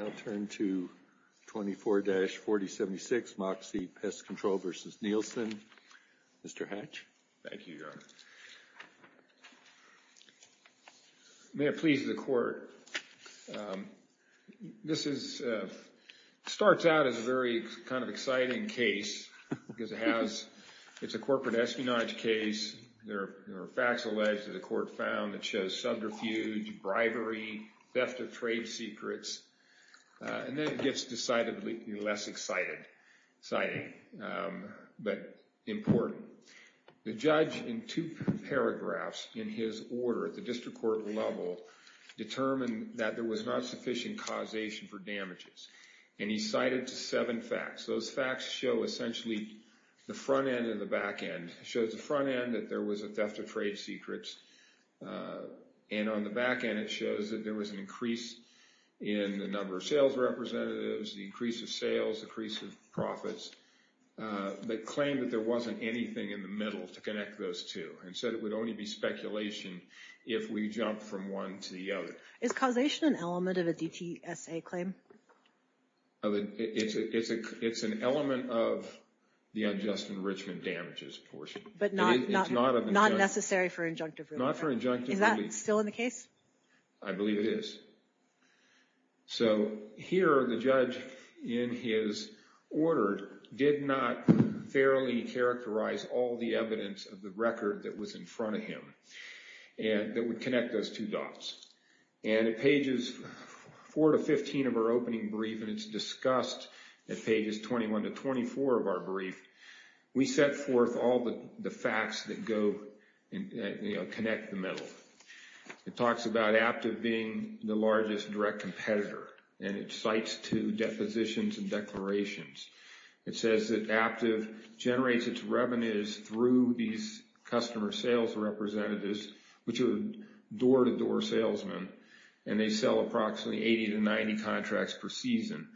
I'll turn to 24-4076, Moxie Pest Control v. Nielsen. Mr. Hatch. Thank you, Your Honor. May it please the Court, this is, starts out as a very kind of exciting case because it has, it's a corporate espionage case. There are facts alleged that the Court found that shows subterfuge, bribery, theft of trade secrets, and then it gets decidedly less exciting, but important. The judge in two paragraphs in his order at the district court level determined that there was not sufficient causation for damages. And he cited seven facts. Those facts show essentially the front end and the back end. It shows the front end that there was a theft of trade secrets. And on the back end, it shows that there was an increase in the number of sales representatives, the increase of sales, increase of profits. They claimed that there wasn't anything in the middle to connect those two. And said it would only be speculation if we jumped from one to the other. Is causation an element of a DTSA claim? It's an element of the unjust enrichment damages portion. But not necessary for injunctive relief? Not for injunctive relief. Is that still in the case? I believe it is. So here, the judge in his order did not fairly characterize all the evidence of the record that was in front of him that would connect those two dots. And at pages 4 to 15 of our opening brief, and it's discussed at pages 21 to 24 of our brief, we set forth all the facts that connect the middle. It talks about Aptiv being the largest direct competitor, and it cites two depositions and declarations. It says that Aptiv generates its revenues through these customer sales representatives, which are door-to-door salesmen, and they sell approximately 80 to 90 contracts per season.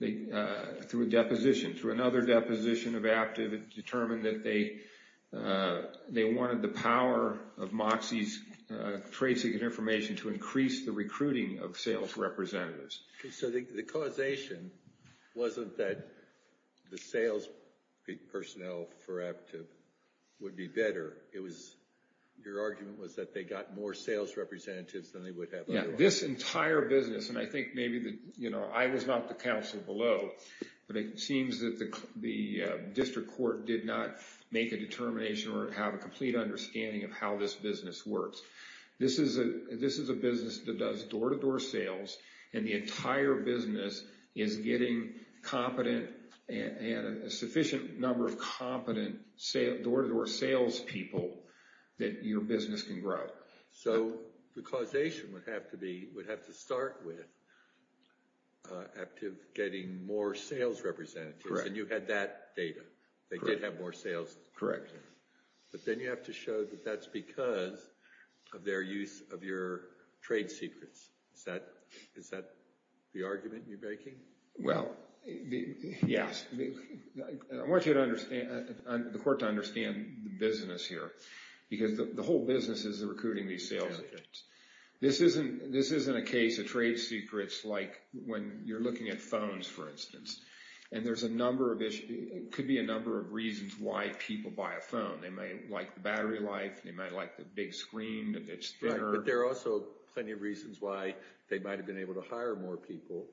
Through a deposition, through another deposition of Aptiv, it determined that they wanted the power of Moxie's tracing and information to increase the recruiting of sales representatives. So the causation wasn't that the sales personnel for Aptiv would be better. It was, your argument was that they got more sales representatives than they would have otherwise. Yeah, this entire business, and I think maybe, you know, I was not the counsel below, but it seems that the district court did not make a determination or have a complete understanding of how this business works. This is a business that does door-to-door sales, and the entire business is getting competent, and a sufficient number of competent door-to-door sales people that your business can grow. So the causation would have to start with Aptiv getting more sales representatives. Correct. And you had that data. Correct. They did have more sales representatives. Correct. But then you have to show that that's because of their use of your trade secrets. Is that the argument you're making? Well, yes. I want you to understand, the court to understand the business here, because the whole business is recruiting these sales agents. This isn't a case of trade secrets like when you're looking at phones, for instance, and there's a number of issues. It could be a number of reasons why people buy a phone. They might like the battery life. They might like the big screen that's thinner. But there are also plenty of reasons why they might have been able to hire more people,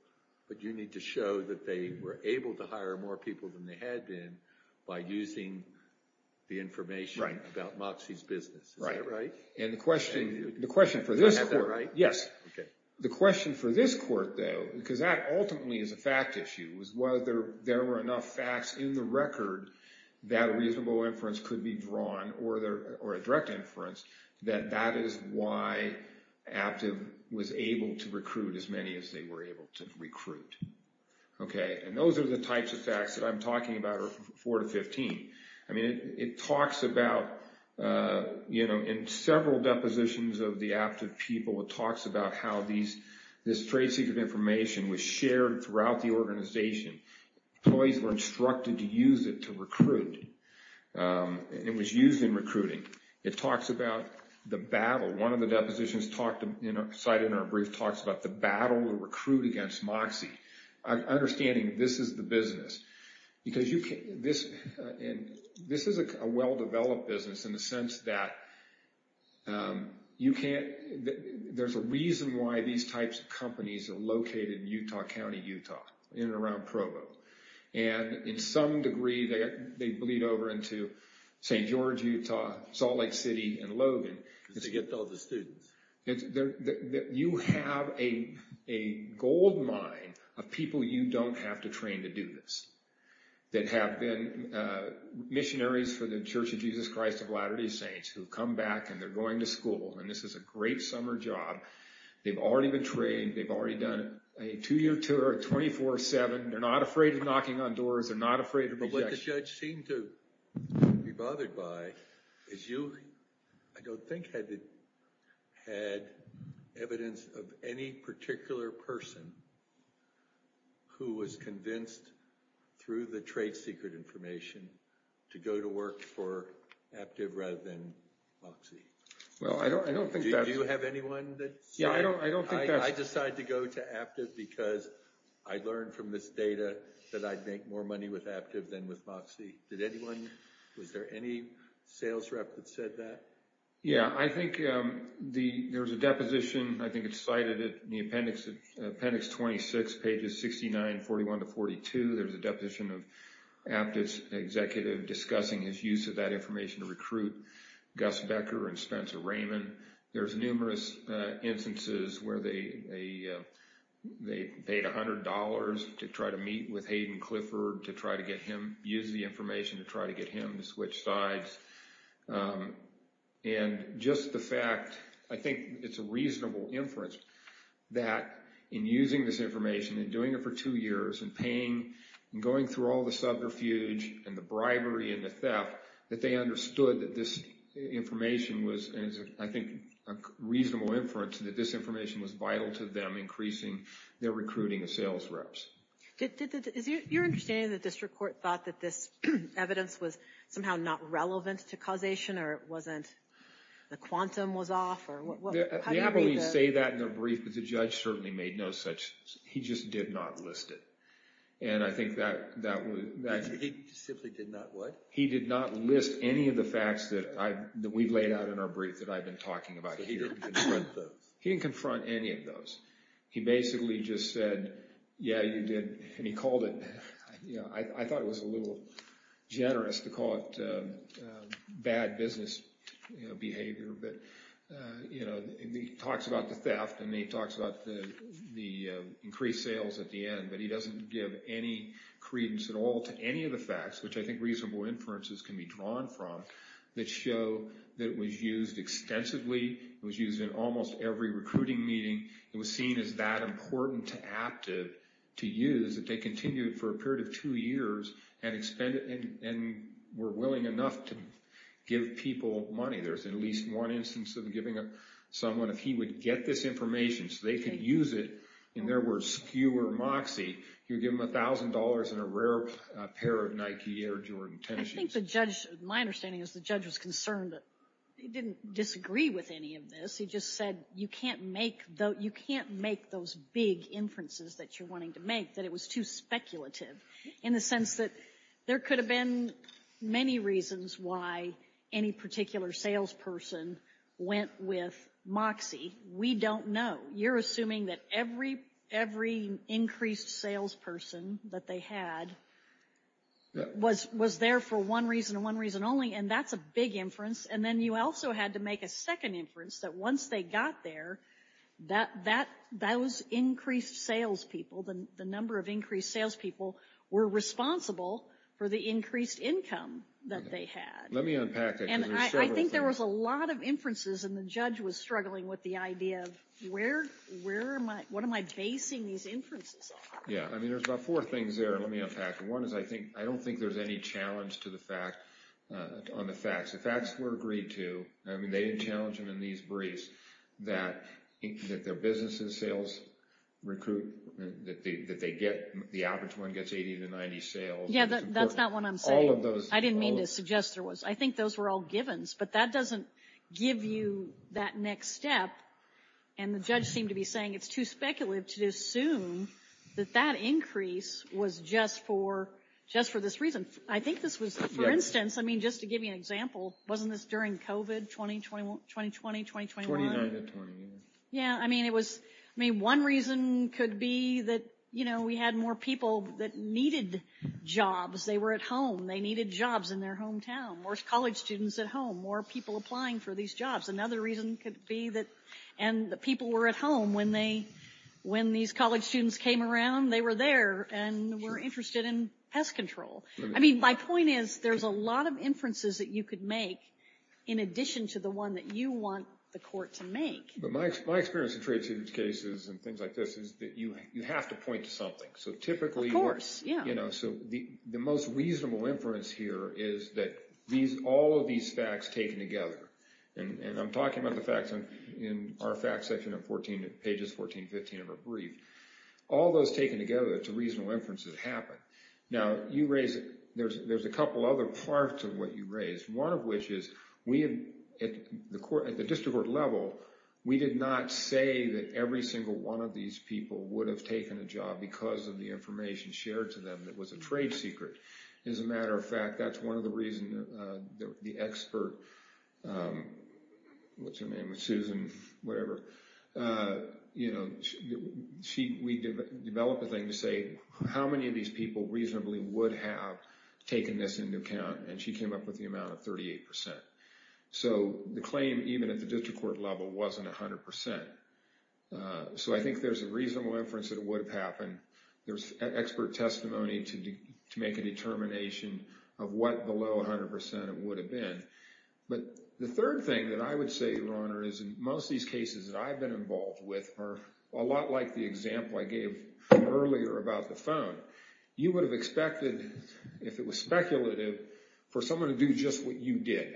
but you need to show that they were able to hire more people than they had been by using the information about Moxie's business. Right. Is that right? And the question for this court. Do I have that right? Yes. Okay. The question for this court, though, because that ultimately is a fact issue, is whether there were enough facts in the record that a reasonable inference could be drawn or a direct inference that that is why Aptiv was able to recruit as many as they were able to recruit. Okay. And those are the types of facts that I'm talking about are 4 to 15. I mean, it talks about, you know, in several depositions of the Aptiv people, it talks about how this trade secret information was shared throughout the organization. Employees were instructed to use it to recruit. It was used in recruiting. It talks about the battle. One of the depositions cited in our brief talks about the battle to recruit against Moxie. Understanding this is the business. Because this is a well-developed business in the sense that you can't – there's a reason why these types of companies are located in Utah County, Utah, in and around Provo. And in some degree, they bleed over into St. George, Utah, Salt Lake City, and Logan. Because they get all the students. You have a gold mine of people you don't have to train to do this, that have been missionaries for the Church of Jesus Christ of Latter-day Saints, who come back and they're going to school. And this is a great summer job. They've already been trained. They've already done a two-year tour 24-7. They're not afraid of knocking on doors. They're not afraid of rejection. What the judge seemed to be bothered by is you, I don't think, had evidence of any particular person who was convinced through the trade secret information to go to work for Aptiv rather than Moxie. Well, I don't think that's – Do you have anyone that – Yeah, I don't think that's – I decide to go to Aptiv because I learned from this data that I'd make more money with Aptiv than with Moxie. Did anyone – was there any sales rep that said that? Yeah, I think there's a deposition. I think it's cited in the appendix 26, pages 69, 41 to 42. There's a deposition of Aptiv's executive discussing his use of that information to recruit Gus Becker and Spencer Raymond. There's numerous instances where they paid $100 to try to meet with Hayden Clifford to try to get him – use the information to try to get him to switch sides. And just the fact – I think it's a reasonable inference that in using this information and doing it for two years and paying and going through all the subterfuge and the bribery and the theft, that they understood that this information was – I think a reasonable inference that this information was vital to them increasing their recruiting of sales reps. Is your understanding that the district court thought that this evidence was somehow not relevant to causation or it wasn't – the quantum was off? How do you read that? Yeah, but we say that in the brief, but the judge certainly made no such – he just did not list it. And I think that – He simply did not what? He did not list any of the facts that we've laid out in our brief that I've been talking about here. He didn't confront those. He didn't confront any of those. He basically just said, yeah, you did, and he called it – I thought it was a little generous to call it bad business behavior, but he talks about the theft and he talks about the increased sales at the end, but he doesn't give any credence at all to any of the facts, which I think reasonable inferences can be drawn from, that show that it was used extensively. It was used in almost every recruiting meeting. It was seen as that important to active to use that they continued for a period of two years and were willing enough to give people money. There's at least one instance of giving someone – in their words, skewer moxie, you give them $1,000 and a rare pair of Nike Air Jordan tennis shoes. I think the judge – my understanding is the judge was concerned that – he didn't disagree with any of this. He just said you can't make those big inferences that you're wanting to make, that it was too speculative in the sense that there could have been many reasons why any particular salesperson went with moxie. We don't know. You're assuming that every increased salesperson that they had was there for one reason and one reason only, and that's a big inference. And then you also had to make a second inference that once they got there, those increased salespeople, the number of increased salespeople, were responsible for the increased income that they had. Let me unpack it. I think there was a lot of inferences, and the judge was struggling with the idea of where am I – what am I basing these inferences on? Yeah, I mean, there's about four things there. Let me unpack them. One is I think – I don't think there's any challenge to the fact – on the facts. The facts were agreed to. I mean, they didn't challenge them in these briefs that their business and sales recruit – that they get – the average one gets 80 to 90 sales. Yeah, that's not what I'm saying. All of those – I didn't mean to suggest there was. I think those were all givens, but that doesn't give you that next step. And the judge seemed to be saying it's too speculative to assume that that increase was just for – just for this reason. I think this was – for instance, I mean, just to give you an example, wasn't this during COVID 2020, 2021? 29 to 20, yeah. Yeah, I mean, it was – I mean, one reason could be that, you know, we had more people that needed jobs. They were at home. They needed jobs in their hometown, more college students at home, more people applying for these jobs. Another reason could be that – and the people were at home when they – when these college students came around, they were there and were interested in pest control. I mean, my point is there's a lot of inferences that you could make in addition to the one that you want the court to make. But my experience in trade student cases and things like this is that you have to point to something. So typically – Of course, yeah. You know, so the most reasonable inference here is that these – all of these facts taken together – and I'm talking about the facts in our facts section of 14 – pages 14, 15 of our brief. All those taken together, it's a reasonable inference that it happened. Now, you raise – there's a couple other parts of what you raised, one of which is we – at the court – at the district court level, we did not say that every single one of these people would have taken a job because of the information shared to them that was a trade secret. As a matter of fact, that's one of the reasons the expert – what's her name? Susan – whatever. You know, she – we developed a thing to say how many of these people reasonably would have taken this into account, and she came up with the amount of 38%. So the claim, even at the district court level, wasn't 100%. So I think there's a reasonable inference that it would have happened. There's expert testimony to make a determination of what below 100% it would have been. But the third thing that I would say, Your Honor, is in most of these cases that I've been involved with are a lot like the example I gave earlier about the phone. You would have expected, if it was speculative, for someone to do just what you did,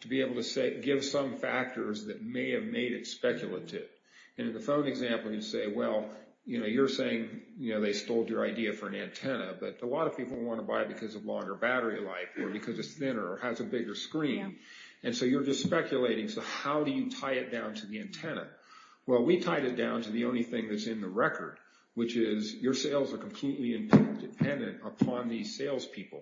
to be able to give some factors that may have made it speculative. In the phone example, you say, Well, you're saying they stole your idea for an antenna, but a lot of people want to buy it because of longer battery life or because it's thinner or has a bigger screen. And so you're just speculating. So how do you tie it down to the antenna? Well, we tied it down to the only thing that's in the record, which is your sales are completely dependent upon these salespeople.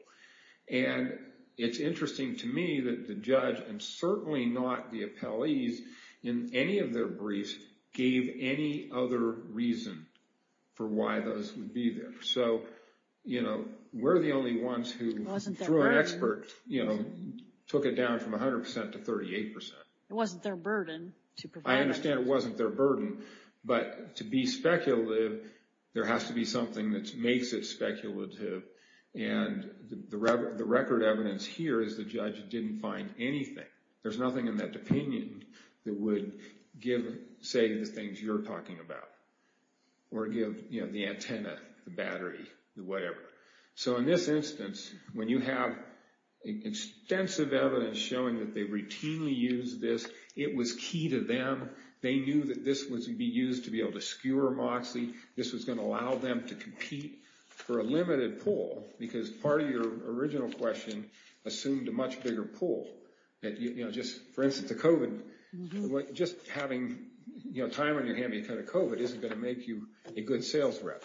And it's interesting to me that the judge, and certainly not the appellees, in any of their briefs, gave any other reason for why those would be there. So we're the only ones who, through an expert, took it down from 100% to 38%. It wasn't their burden. I understand it wasn't their burden, but to be speculative, there has to be something that makes it speculative. And the record evidence here is the judge didn't find anything. There's nothing in that opinion that would give, say, the things you're talking about or give the antenna, the battery, the whatever. So in this instance, when you have extensive evidence showing that they routinely use this, it was key to them. They knew that this would be used to be able to skewer MOXIE. This was going to allow them to compete for a limited pool, because part of your original question assumed a much bigger pool. For instance, the COVID, just having time on your hand because of COVID isn't going to make you a good sales rep.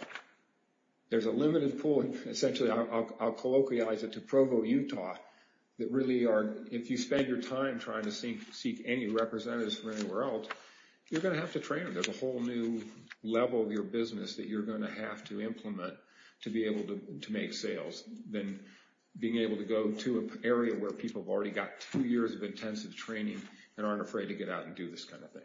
There's a limited pool, and essentially I'll colloquialize it to Provo, Utah, that really are, if you spend your time trying to seek any representatives from anywhere else, you're going to have to train them. There's a whole new level of your business that you're going to have to implement to be able to make sales than being able to go to an area where people have already got two years of intensive training and aren't afraid to get out and do this kind of thing.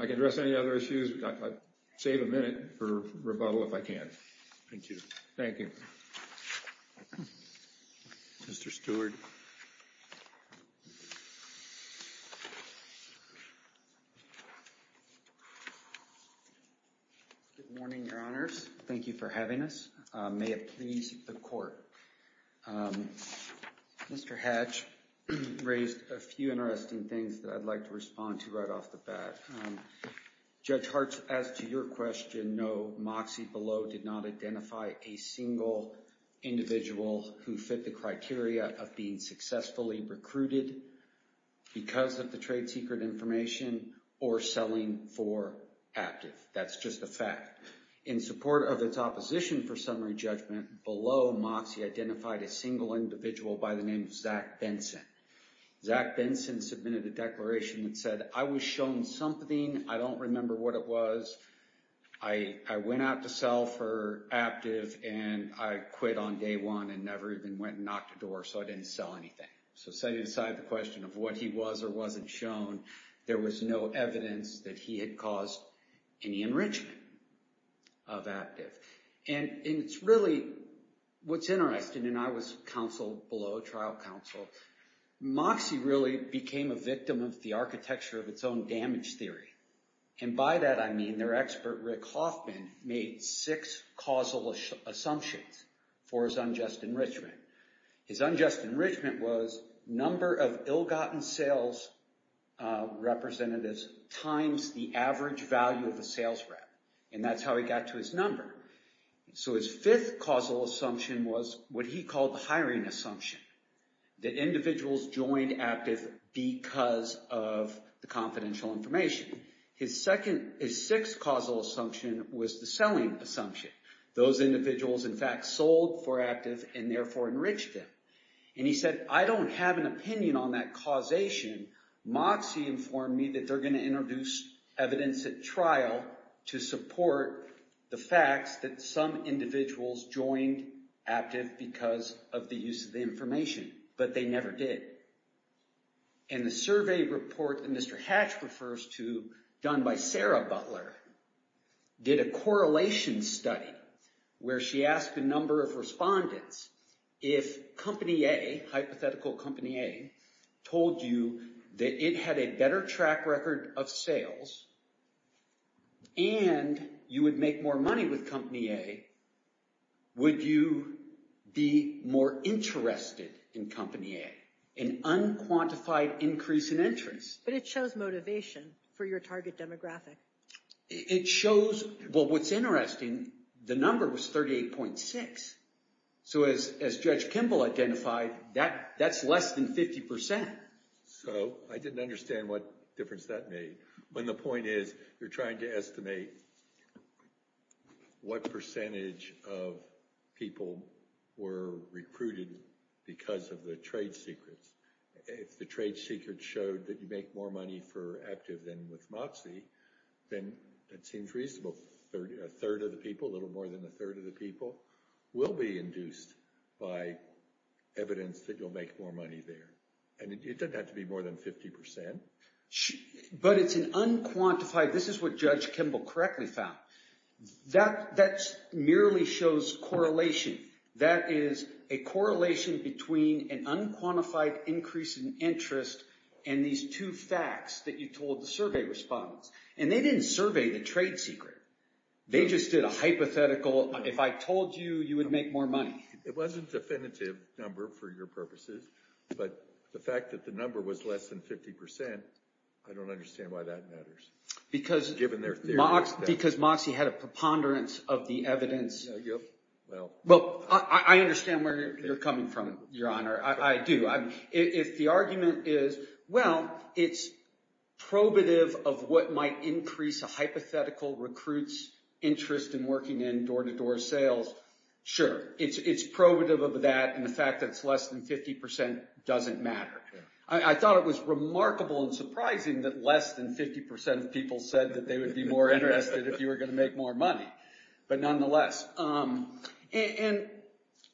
I can address any other issues. I'll save a minute for rebuttal if I can. Thank you. Mr. Stewart. Good morning, Your Honors. Thank you for having us. May it please the Court. Mr. Hatch raised a few interesting things that I'd like to respond to right off the bat. Judge Hartz, as to your question, no, Moxie Below did not identify a single individual who fit the criteria of being successfully recruited because of the trade secret information or selling for active. That's just a fact. In support of its opposition for summary judgment, Below, Moxie, identified a single individual by the name of Zach Benson. Zach Benson submitted a declaration that said, I was shown something. I don't remember what it was. I went out to sell for active, and I quit on day one and never even went and knocked a door, so I didn't sell anything. So setting aside the question of what he was or wasn't shown, there was no evidence that he had caused any enrichment of active. It's really what's interesting, and I was counsel Below, trial counsel, Moxie really became a victim of the architecture of its own damage theory, and by that I mean their expert, Rick Hoffman, made six causal assumptions for his unjust enrichment. His unjust enrichment was number of ill-gotten sales representatives times the average value of a sales rep, and that's how he got to his number. So his fifth causal assumption was what he called the hiring assumption, that individuals joined active because of the confidential information. His sixth causal assumption was the selling assumption. Those individuals, in fact, sold for active and therefore enriched them, and he said, I don't have an opinion on that causation. Moxie informed me that they're going to introduce evidence at trial to support the facts that some individuals joined active because of the use of the information, but they never did. And the survey report that Mr. Hatch refers to, done by Sarah Butler, did a correlation study where she asked a number of respondents if company A, hypothetical company A, told you that it had a better track record of sales and you would make more money with company A, would you be more interested in company A? An unquantified increase in interest. But it shows motivation for your target demographic. It shows, well, what's interesting, the number was 38.6. So as Judge Kimball identified, that's less than 50%. So I didn't understand what difference that made, when the point is you're trying to estimate what percentage of people were recruited because of the trade secrets. If the trade secret showed that you make more money for active than with Moxie, then that seems reasonable. A third of the people, a little more than a third of the people. Will be induced by evidence that you'll make more money there. And it doesn't have to be more than 50%. But it's an unquantified, this is what Judge Kimball correctly found. That merely shows correlation. That is a correlation between an unquantified increase in interest and these two facts that you told the survey respondents. And they didn't survey the trade secret. They just did a hypothetical, if I told you, you would make more money. It wasn't a definitive number for your purposes. But the fact that the number was less than 50%, I don't understand why that matters. Because Moxie had a preponderance of the evidence. Well, I understand where you're coming from, Your Honor. I do. If the argument is, well, it's probative of what might increase a hypothetical recruit's interest in working in door-to-door sales. Sure, it's probative of that. And the fact that it's less than 50% doesn't matter. I thought it was remarkable and surprising that less than 50% of people said that they would be more interested if you were going to make more money. But nonetheless. And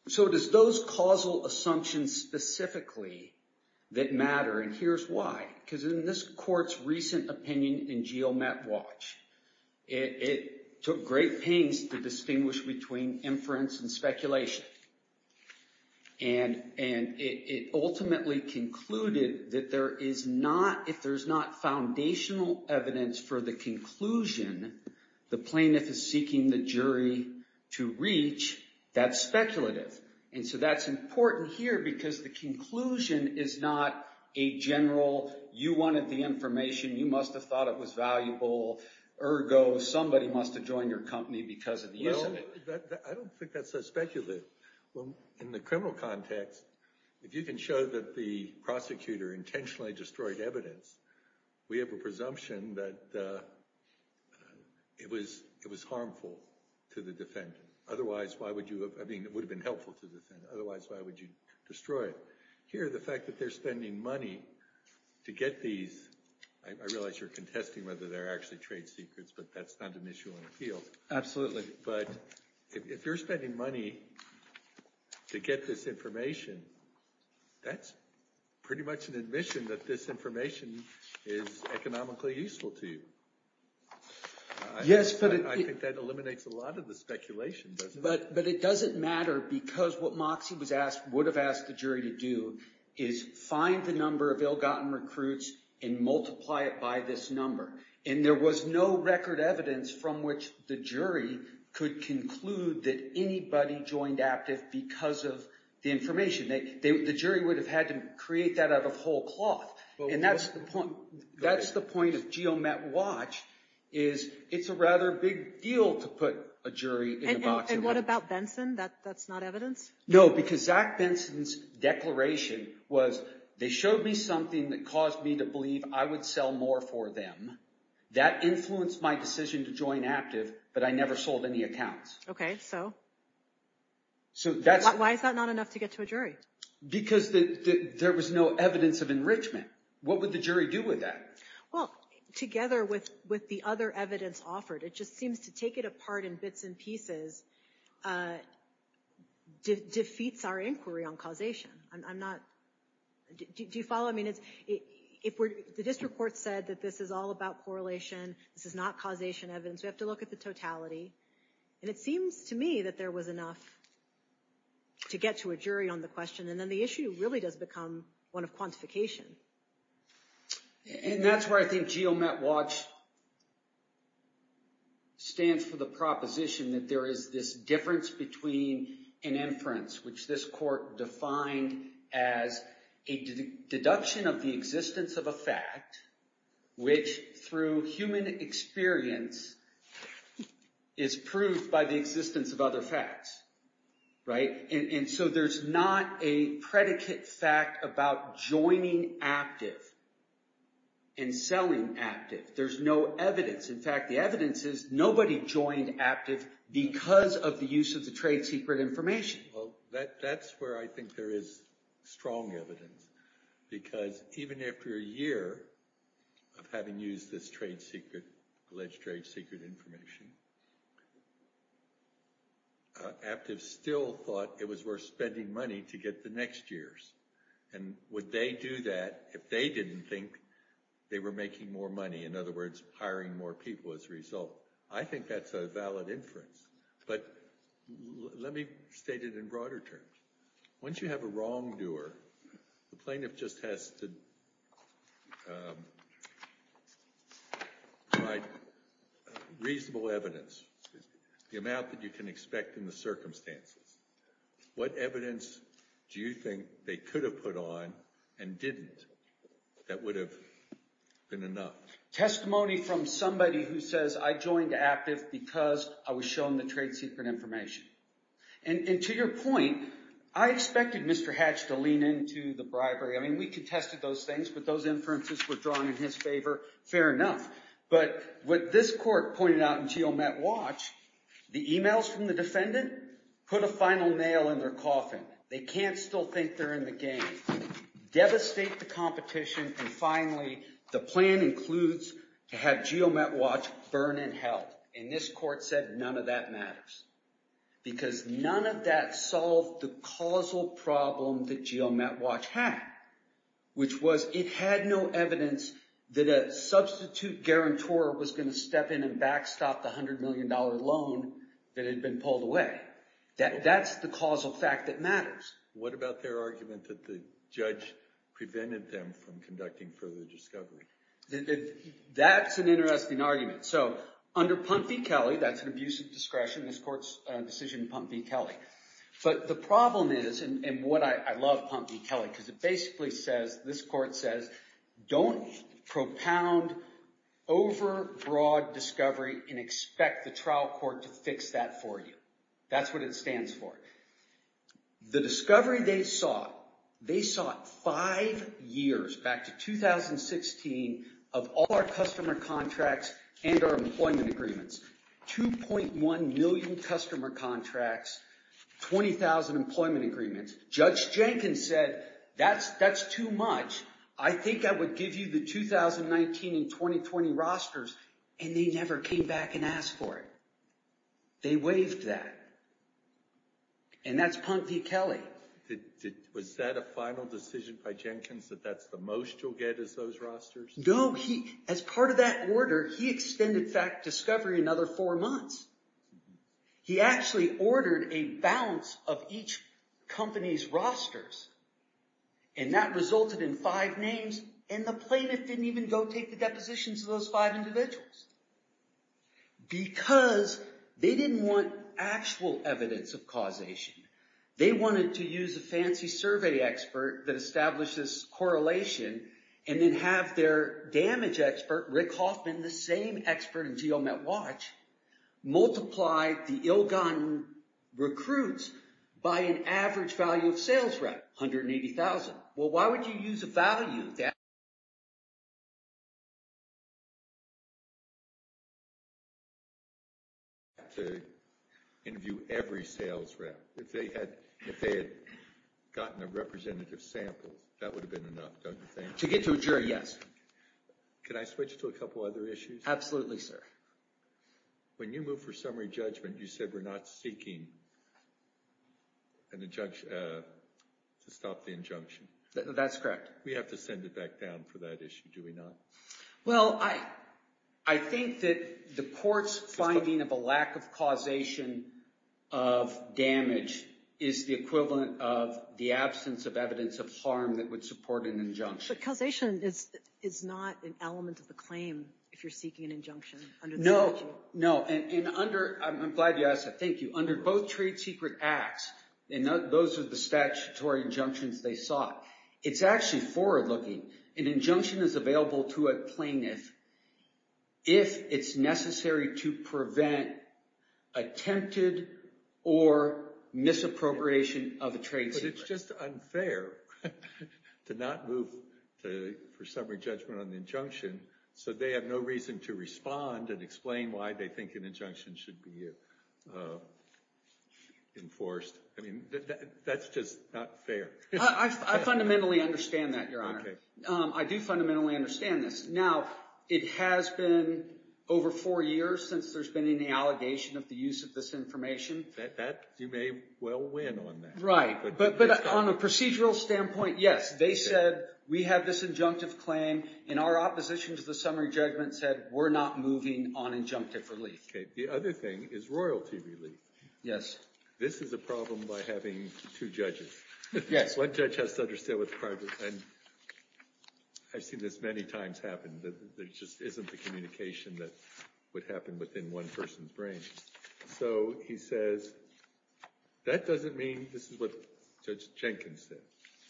so does those causal assumptions specifically that matter, and here's why. Because in this court's recent opinion in GeoMet Watch, it took great pains to distinguish between inference and speculation. And it ultimately concluded that there is not, if there's not foundational evidence for the conclusion the plaintiff is seeking the jury to reach, that's speculative. And so that's important here because the conclusion is not a general, you wanted the information, you must have thought it was valuable, ergo, somebody must have joined your company because of the use of it. I don't think that's so speculative. In the criminal context, if you can show that the prosecutor intentionally destroyed evidence, we have a presumption that it was harmful to the defendant. Otherwise, why would you have, I mean, it would have been helpful to the defendant. Otherwise, why would you destroy it? Here, the fact that they're spending money to get these, I realize you're contesting whether they're actually trade secrets, but that's not an issue in appeals. Absolutely. But if you're spending money to get this information, that's pretty much an admission that this information is economically useful to you. I think that eliminates a lot of the speculation, doesn't it? But it doesn't matter because what Moxie would have asked the jury to do is find the number of ill-gotten recruits and multiply it by this number. And there was no record evidence from which the jury could conclude that anybody joined Aptiv because of the information. The jury would have had to create that out of whole cloth. And that's the point of GeoMet Watch, is it's a rather big deal to put a jury in a box of evidence. And what about Benson? That's not evidence? No, because Zach Benson's declaration was, they showed me something that caused me to believe I would sell more for them. That influenced my decision to join Aptiv, but I never sold any accounts. Okay, so why is that not enough to get to a jury? Because there was no evidence of enrichment. What would the jury do with that? Well, together with the other evidence offered, it just seems to take it apart in bits and pieces, defeats our inquiry on causation. Do you follow? The district court said that this is all about correlation. This is not causation evidence. We have to look at the totality. And it seems to me that there was enough to get to a jury on the question. And then the issue really does become one of quantification. And that's where I think GeoMet Watch stands for the proposition that there is this difference between an inference, which this court defined as a deduction of the existence of a fact, which through human experience is proved by the existence of other facts. And so there's not a predicate fact about joining Aptiv and selling Aptiv. There's no evidence. In fact, the evidence is nobody joined Aptiv because of the use of the trade secret information. Well, that's where I think there is strong evidence. Because even after a year of having used this trade secret, alleged trade secret information, Aptiv still thought it was worth spending money to get the next years. And would they do that if they didn't think they were making more money, in other words, hiring more people as a result? I think that's a valid inference. But let me state it in broader terms. Once you have a wrongdoer, the plaintiff just has to provide reasonable evidence, the amount that you can expect in the circumstances. What evidence do you think they could have put on and didn't that would have been enough? Testimony from somebody who says, I joined Aptiv because I was shown the trade secret information. And to your point, I expected Mr. Hatch to lean into the bribery. I mean, we contested those things, but those inferences were drawn in his favor. Fair enough. But what this court pointed out in GeoMet Watch, the emails from the defendant put a final nail in their coffin. They can't still think they're in the game. Devastate the competition. And finally, the plan includes to have GeoMet Watch burn in hell. And this court said none of that matters. Because none of that solved the causal problem that GeoMet Watch had, which was it had no evidence that a substitute guarantor was going to step in and backstop the $100 million loan that had been pulled away. That's the causal fact that matters. What about their argument that the judge prevented them from conducting further discovery? That's an interesting argument. So under Pump v. Kelly, that's an abuse of discretion. This court's decision, Pump v. Kelly. But the problem is, and what I love Pump v. Kelly, because it basically says, this court says, don't propound over broad discovery and expect the trial court to fix that for you. That's what it stands for. The discovery they sought, they sought five years, back to 2016, of all our customer contracts and our employment agreements. 2.1 million customer contracts, 20,000 employment agreements. Judge Jenkins said, that's too much. I think I would give you the 2019 and 2020 rosters. And they never came back and asked for it. They waived that. And that's Pump v. Kelly. Was that a final decision by Jenkins, that that's the most you'll get is those rosters? No. As part of that order, he extended fact discovery another four months. He actually ordered a balance of each company's rosters. And that resulted in five names. And the plaintiff didn't even go take the depositions of those five individuals. Because they didn't want actual evidence of causation. They wanted to use a fancy survey expert that establishes correlation. And then have their damage expert, Rick Hoffman, the same expert in GeoMet Watch, multiply the ill-gotten recruits by an average value of sales rep, 180,000. Well, why would you use a value that... ...to interview every sales rep? If they had gotten a representative sample, that would have been enough, don't you think? To get to a jury, yes. Can I switch to a couple other issues? Absolutely, sir. When you move for summary judgment, you said we're not seeking an injunction... to stop the injunction. That's correct. We have to send it back down for that issue, do we not? Well, I think that the court's finding of a lack of causation of damage is the equivalent of the absence of evidence of harm that would support an injunction. But causation is not an element of the claim if you're seeking an injunction under the statute. No, no. And under... I'm glad you asked that, thank you. Under both trade secret acts, and those are the statutory injunctions they sought, it's actually forward-looking. An injunction is available to a plaintiff if it's necessary to prevent attempted or misappropriation of a trade secret. But it's just unfair to not move for summary judgment on the injunction so they have no reason to respond and explain why they think an injunction should be enforced. I mean, that's just not fair. I fundamentally understand that, Your Honor. I do fundamentally understand this. Now, it has been over four years since there's been any allegation of the use of this information. You may well win on that. Right, but on a procedural standpoint, yes. They said, we have this injunctive claim, and our opposition to the summary judgment said, we're not moving on injunctive relief. Okay, the other thing is royalty relief. Yes. This is a problem by having two judges. Yes. One judge has to understand what the problem is, and I've seen this many times happen, that there just isn't the communication that would happen within one person's brain. So he says, that doesn't mean, this is what Judge Jenkins said,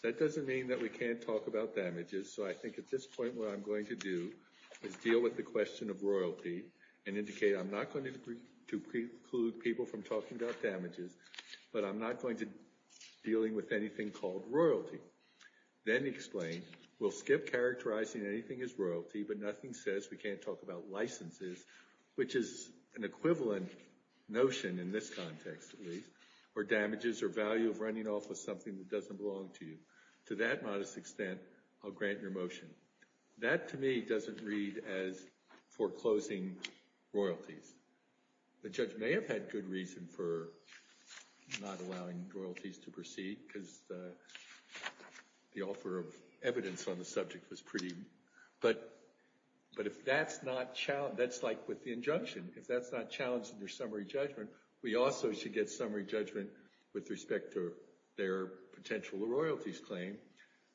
that doesn't mean that we can't talk about damages, so I think at this point what I'm going to do is deal with the question of royalty and indicate I'm not going to preclude people from talking about damages, but I'm not going to deal with anything called royalty. Then explain, we'll skip characterizing anything as royalty, but nothing says we can't talk about licenses, which is an equivalent notion in this context, at least, where damages are value of running off with something that doesn't belong to you. To that modest extent, I'll grant your motion. That, to me, doesn't read as foreclosing royalties. The judge may have had good reason for not allowing royalties to proceed, because the offer of evidence on the subject was pretty, but if that's not challenged, that's like with the injunction, if that's not challenged in your summary judgment, we also should get summary judgment with respect to their potential royalties claim,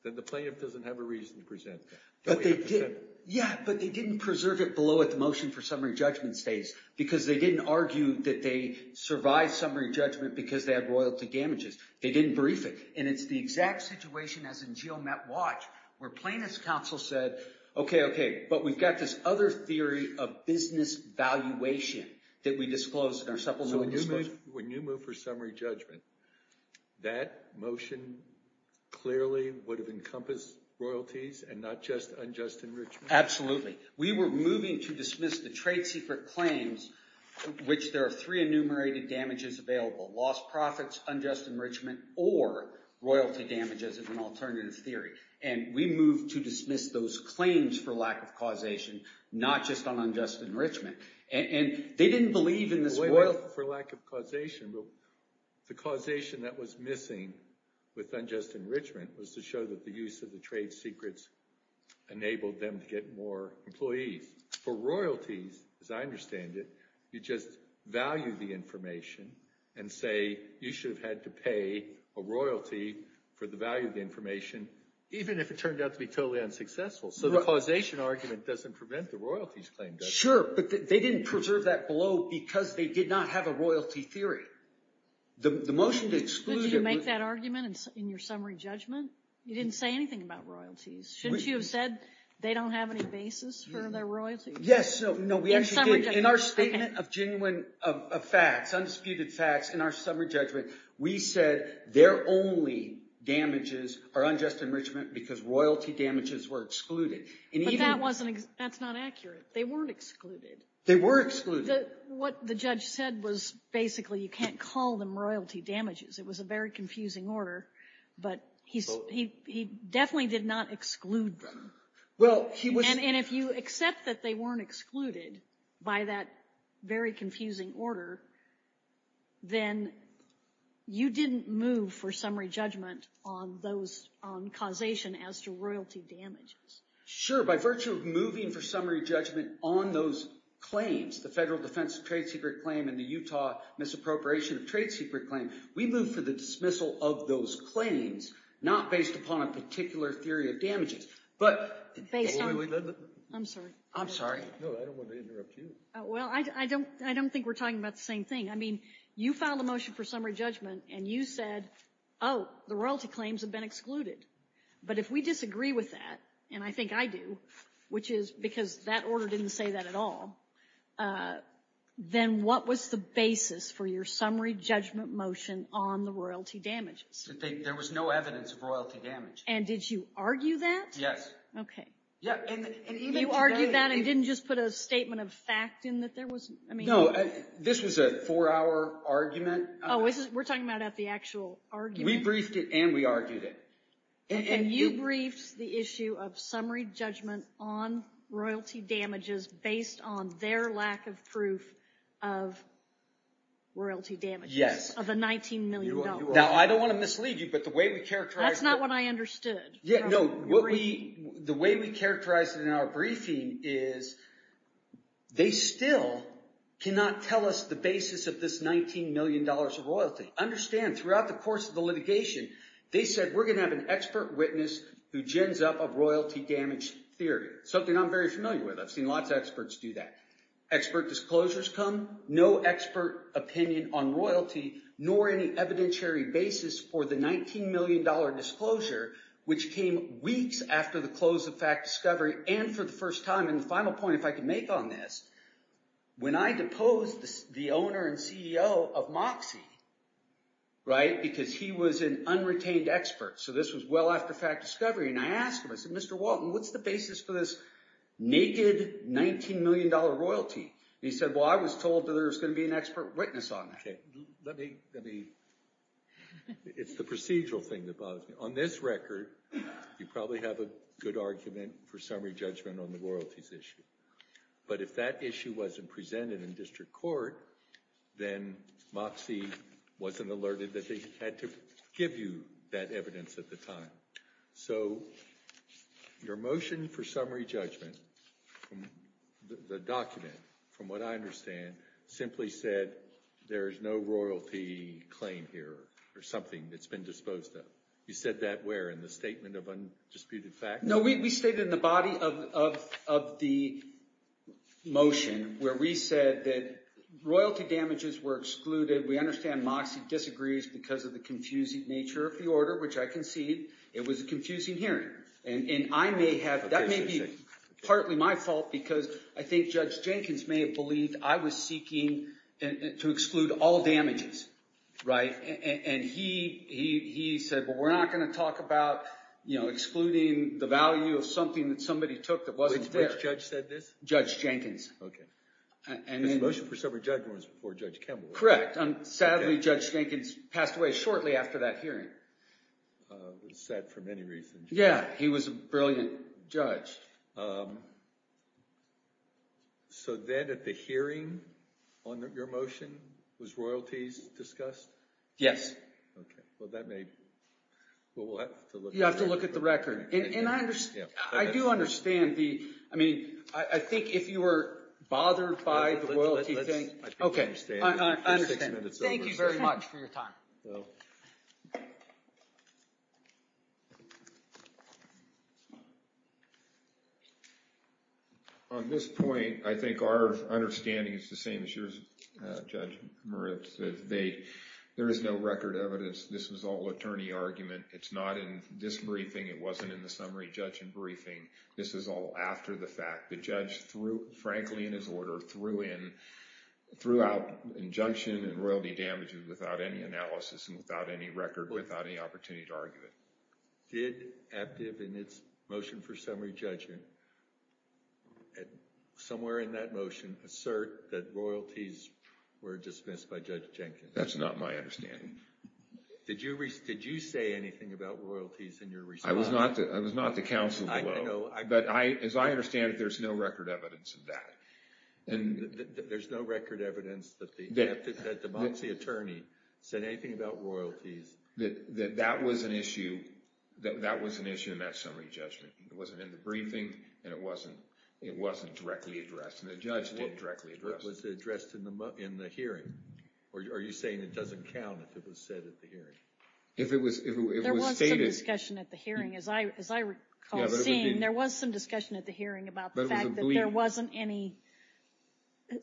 then the plaintiff doesn't have a reason to present. But they did, yeah, but they didn't preserve it below what the motion for summary judgment states, because they didn't argue that they survived summary judgment because they had royalty damages. They didn't brief it, and it's the exact situation, as in GeoMetWatch, where plaintiff's counsel said, okay, okay, but we've got this other theory of business valuation that we disclosed in our supplemental disclosure. So when you move for summary judgment, that motion clearly would have encompassed royalties and not just unjust enrichment? Absolutely. We were moving to dismiss the trade secret claims, which there are three enumerated damages available, lost profits, unjust enrichment, or royalty damages as an alternative theory. And we moved to dismiss those claims for lack of causation, not just on unjust enrichment. And they didn't believe in this... For lack of causation, the causation that was missing with unjust enrichment was to show that the use of the trade secrets enabled them to get more employees. For royalties, as I understand it, you just value the information and say, you should have had to pay a royalty for the value of the information, even if it turned out to be totally unsuccessful. So the causation argument doesn't prevent the royalties claim, does it? Sure, but they didn't preserve that below because they did not have a royalty theory. The motion to exclude... But did you make that argument in your summary judgment? You didn't say anything about royalties. Shouldn't you have said they don't have any basis for their royalties? Yes, no, we actually did. In our statement of genuine facts, undisputed facts in our summary judgment, we said their only damages are unjust enrichment because royalty damages were excluded. But that's not accurate. They weren't excluded. They were excluded. What the judge said was basically you can't call them royalty damages. It was a very confusing order, but he definitely did not exclude them. And if you accept that they weren't excluded by that very confusing order, then you didn't move for summary judgment on causation as to royalty damages. Sure, by virtue of moving for summary judgment on those claims, the Federal Defense of Trade Secret Claim and the Utah Misappropriation of Trade Secret Claim, we moved for the dismissal of those claims not based upon a particular theory of damages, but based on... I'm sorry. I'm sorry. No, I don't want to interrupt you. Well, I don't think we're talking about the same thing. I mean, you filed a motion for summary judgment and you said, oh, the royalty claims have been excluded. But if we disagree with that, and I think I do, which is because that order didn't say that at all, then what was the basis for your summary judgment motion on the royalty damages? There was no evidence of royalty damage. And did you argue that? Yes. Okay. You argued that and didn't just put a statement of fact in that there was... No, this was a four-hour argument. Oh, we're talking about the actual argument? We briefed it and we argued it. And you briefed the issue of summary judgment on royalty damages based on their lack of proof of royalty damages? Yes. Of the $19 million. Now, I don't want to mislead you, but the way we characterized... That's not what I understood. Yeah, no. The way we characterized it in our briefing is they still cannot tell us the basis of this $19 million of royalty. Understand, throughout the course of the litigation, they said we're going to have an expert witness who gins up a royalty damage theory, something I'm very familiar with. I've seen lots of experts do that. Expert disclosures come, no expert opinion on royalty, nor any evidentiary basis for the $19 million disclosure, which came weeks after the close of Fact Discovery, and for the first time. And the final point, if I could make on this, when I deposed the owner and CEO of Moxie, because he was an unretained expert, so this was well after Fact Discovery, and I asked him, I said, Mr. Walton, what's the basis for this naked $19 million royalty? And he said, well, I was told that there was going to be an expert witness on that. Okay, let me... It's the procedural thing that bothers me. On this record, you probably have a good argument for summary judgment on the royalties issue. But if that issue wasn't presented in district court, then Moxie wasn't alerted that they had to give you that evidence at the time. So your motion for summary judgment, the document, from what I understand, simply said there is no royalty claim here, or something that's been disposed of. You said that where? In the Statement of Undisputed Facts? No, we stated in the body of the motion where we said that royalty damages were excluded. We understand Moxie disagrees because of the confusing nature of the order, which I concede. It was a confusing hearing. And I may have... That may be partly my fault because I think Judge Jenkins may have believed I was seeking to exclude all damages. Right? And he said, well, we're not going to talk about excluding the value of something that somebody took that wasn't there. Which judge said this? Judge Jenkins. Okay. This motion for summary judgment was before Judge Kemmel. Correct. Sadly, Judge Jenkins passed away shortly after that hearing. It was sad for many reasons. Yeah, he was a brilliant judge. So then at the hearing on your motion, was royalties discussed? Yes. Okay. Well, that may... Well, we'll have to look... You'll have to look at the record. And I do understand the... I mean, I think if you were bothered by the royalty thing... Okay. I understand. Thank you very much for your time. On this point, I think our understanding is the same as yours, Judge Moritz. There is no record evidence. This was all attorney argument. It's not in this briefing. It wasn't in the summary judgment briefing. This is all after the fact. The judge, frankly, in his order, threw out injunction and royalty damages without any analysis and without any record, without any opportunity to argue it. Did ABDIV in its motion for summary judgment, somewhere in that motion, assert that royalties were dismissed by Judge Jenkins? That's not my understanding. Did you say anything about royalties in your response? I was not the counsel below. But as I understand it, there's no record evidence of that. There's no record evidence that the Demoxy attorney said anything about royalties. That was an issue in that summary judgment. It wasn't in the briefing, and it wasn't directly addressed. And the judge did directly address it. It was addressed in the hearing. Are you saying it doesn't count if it was said at the hearing? If it was stated... There was some discussion at the hearing. As I recall seeing, there was some discussion at the hearing about the fact that there wasn't any...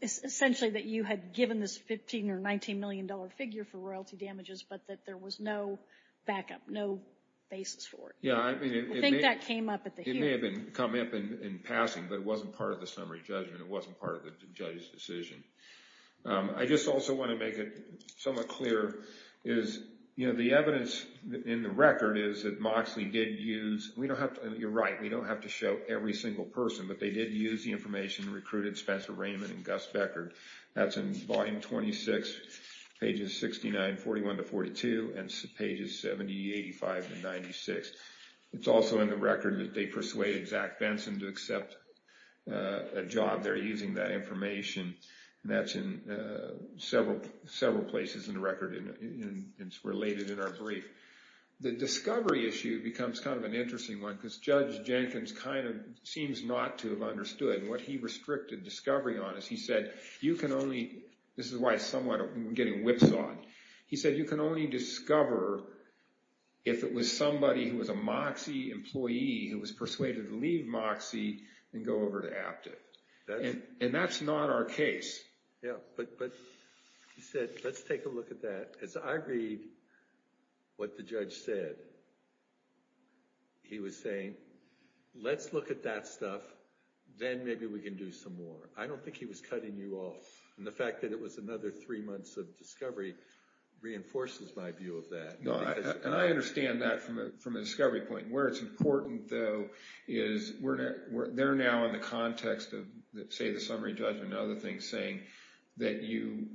Essentially that you had given this $15 or $19 million figure for royalty damages, but that there was no backup, no basis for it. I think that came up at the hearing. It may have come up in passing, but it wasn't part of the summary judgment. It wasn't part of the judge's decision. I just also want to make it somewhat clearer. The evidence in the record is that Moxley did use... You're right. We don't have to show every single person, but they did use the information that recruited Spencer Raymond and Gus Beckard. That's in volume 26, pages 69, 41 to 42, and pages 70, 85, and 96. It's also in the record that they persuaded Zach Benson to accept a job. They're using that information. That's in several places in the record, and it's related in our brief. The discovery issue becomes kind of an interesting one because Judge Jenkins kind of seems not to have understood. What he restricted discovery on is he said you can only... This is why I'm somewhat getting whipsawed. He said you can only discover if it was somebody who was a Moxley employee who was persuaded to leave Moxley and go over to Apte. That's not our case. Yeah, but he said let's take a look at that. As I read what the judge said, he was saying let's look at that stuff. Then maybe we can do some more. I don't think he was cutting you off. The fact that it was another three months of discovery reinforces my view of that. I understand that from a discovery point. Where it's important, though, is they're now in the context of, say, the summary judgment and other things saying that you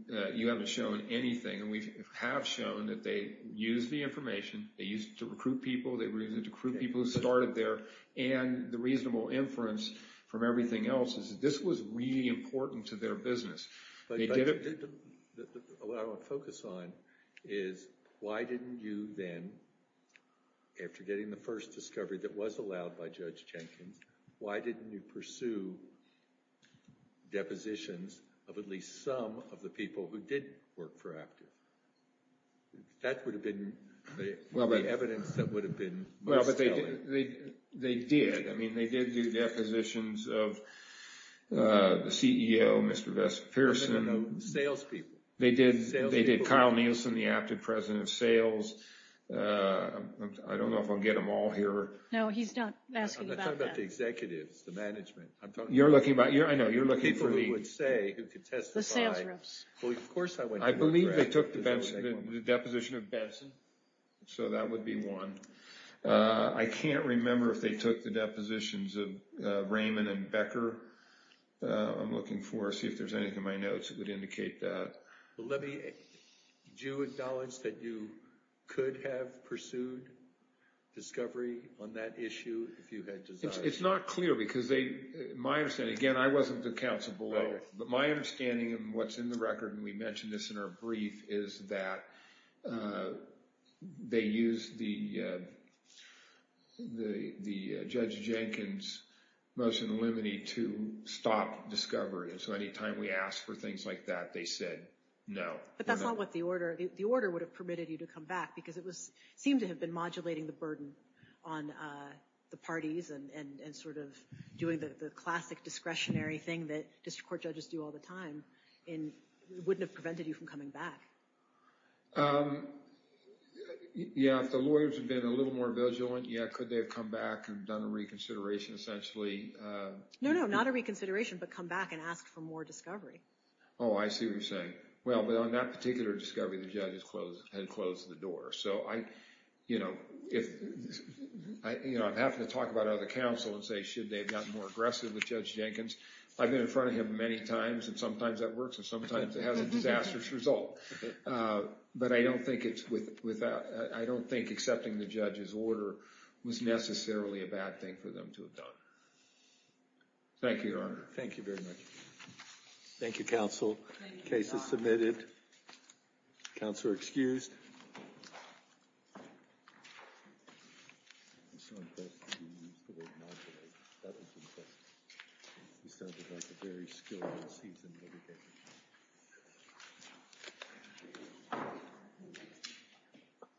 haven't shown anything. We have shown that they used the information. They used it to recruit people. They used it to recruit people who started there. The reasonable inference from everything else is this was really important to their business. What I want to focus on is why didn't you then, after getting the first discovery that was allowed by Judge Jenkins, why didn't you pursue depositions of at least some of the people who didn't work for Apte? That would have been the evidence that would have been most telling. They did. They did do depositions of the CEO, Mr. Bess Pearson. Salespeople. They did Kyle Nielsen, the Apte president of sales. I don't know if I'll get them all here. No, he's not asking about that. I'm not talking about the executives, the management. I'm talking about the people who would say who could testify. The sales reps. Well, of course I went to them. I believe they took the deposition of Benson, so that would be one. I can't remember if they took the depositions of Raymond and Becker. I'm looking to see if there's anything in my notes that would indicate that. Did you acknowledge that you could have pursued discovery on that issue if you had desired? It's not clear because my understanding, again, I wasn't the counsel below, but my understanding of what's in the record, and we mentioned this in our brief, is that they used the Judge Jenkins motion limiting to stop discovery. So any time we asked for things like that, they said no. But that's not what the order – the order would have permitted you to come back because it seemed to have been modulating the burden on the parties and sort of doing the classic discretionary thing that district court judges do all the time and wouldn't have prevented you from coming back. Yeah, if the lawyers had been a little more vigilant, yeah, could they have come back and done a reconsideration essentially? No, no, not a reconsideration, but come back and ask for more discovery. Oh, I see what you're saying. Well, but on that particular discovery, the judges had closed the door. So, you know, I'm happy to talk about it with the counsel and say should they have gotten more aggressive with Judge Jenkins. I've been in front of him many times, and sometimes that works, and sometimes it has a disastrous result. But I don't think it's – I don't think accepting the judge's order was necessarily a bad thing for them to have done. Thank you, Your Honor. Thank you very much. Thank you, counsel. Case is submitted. Counselor excused.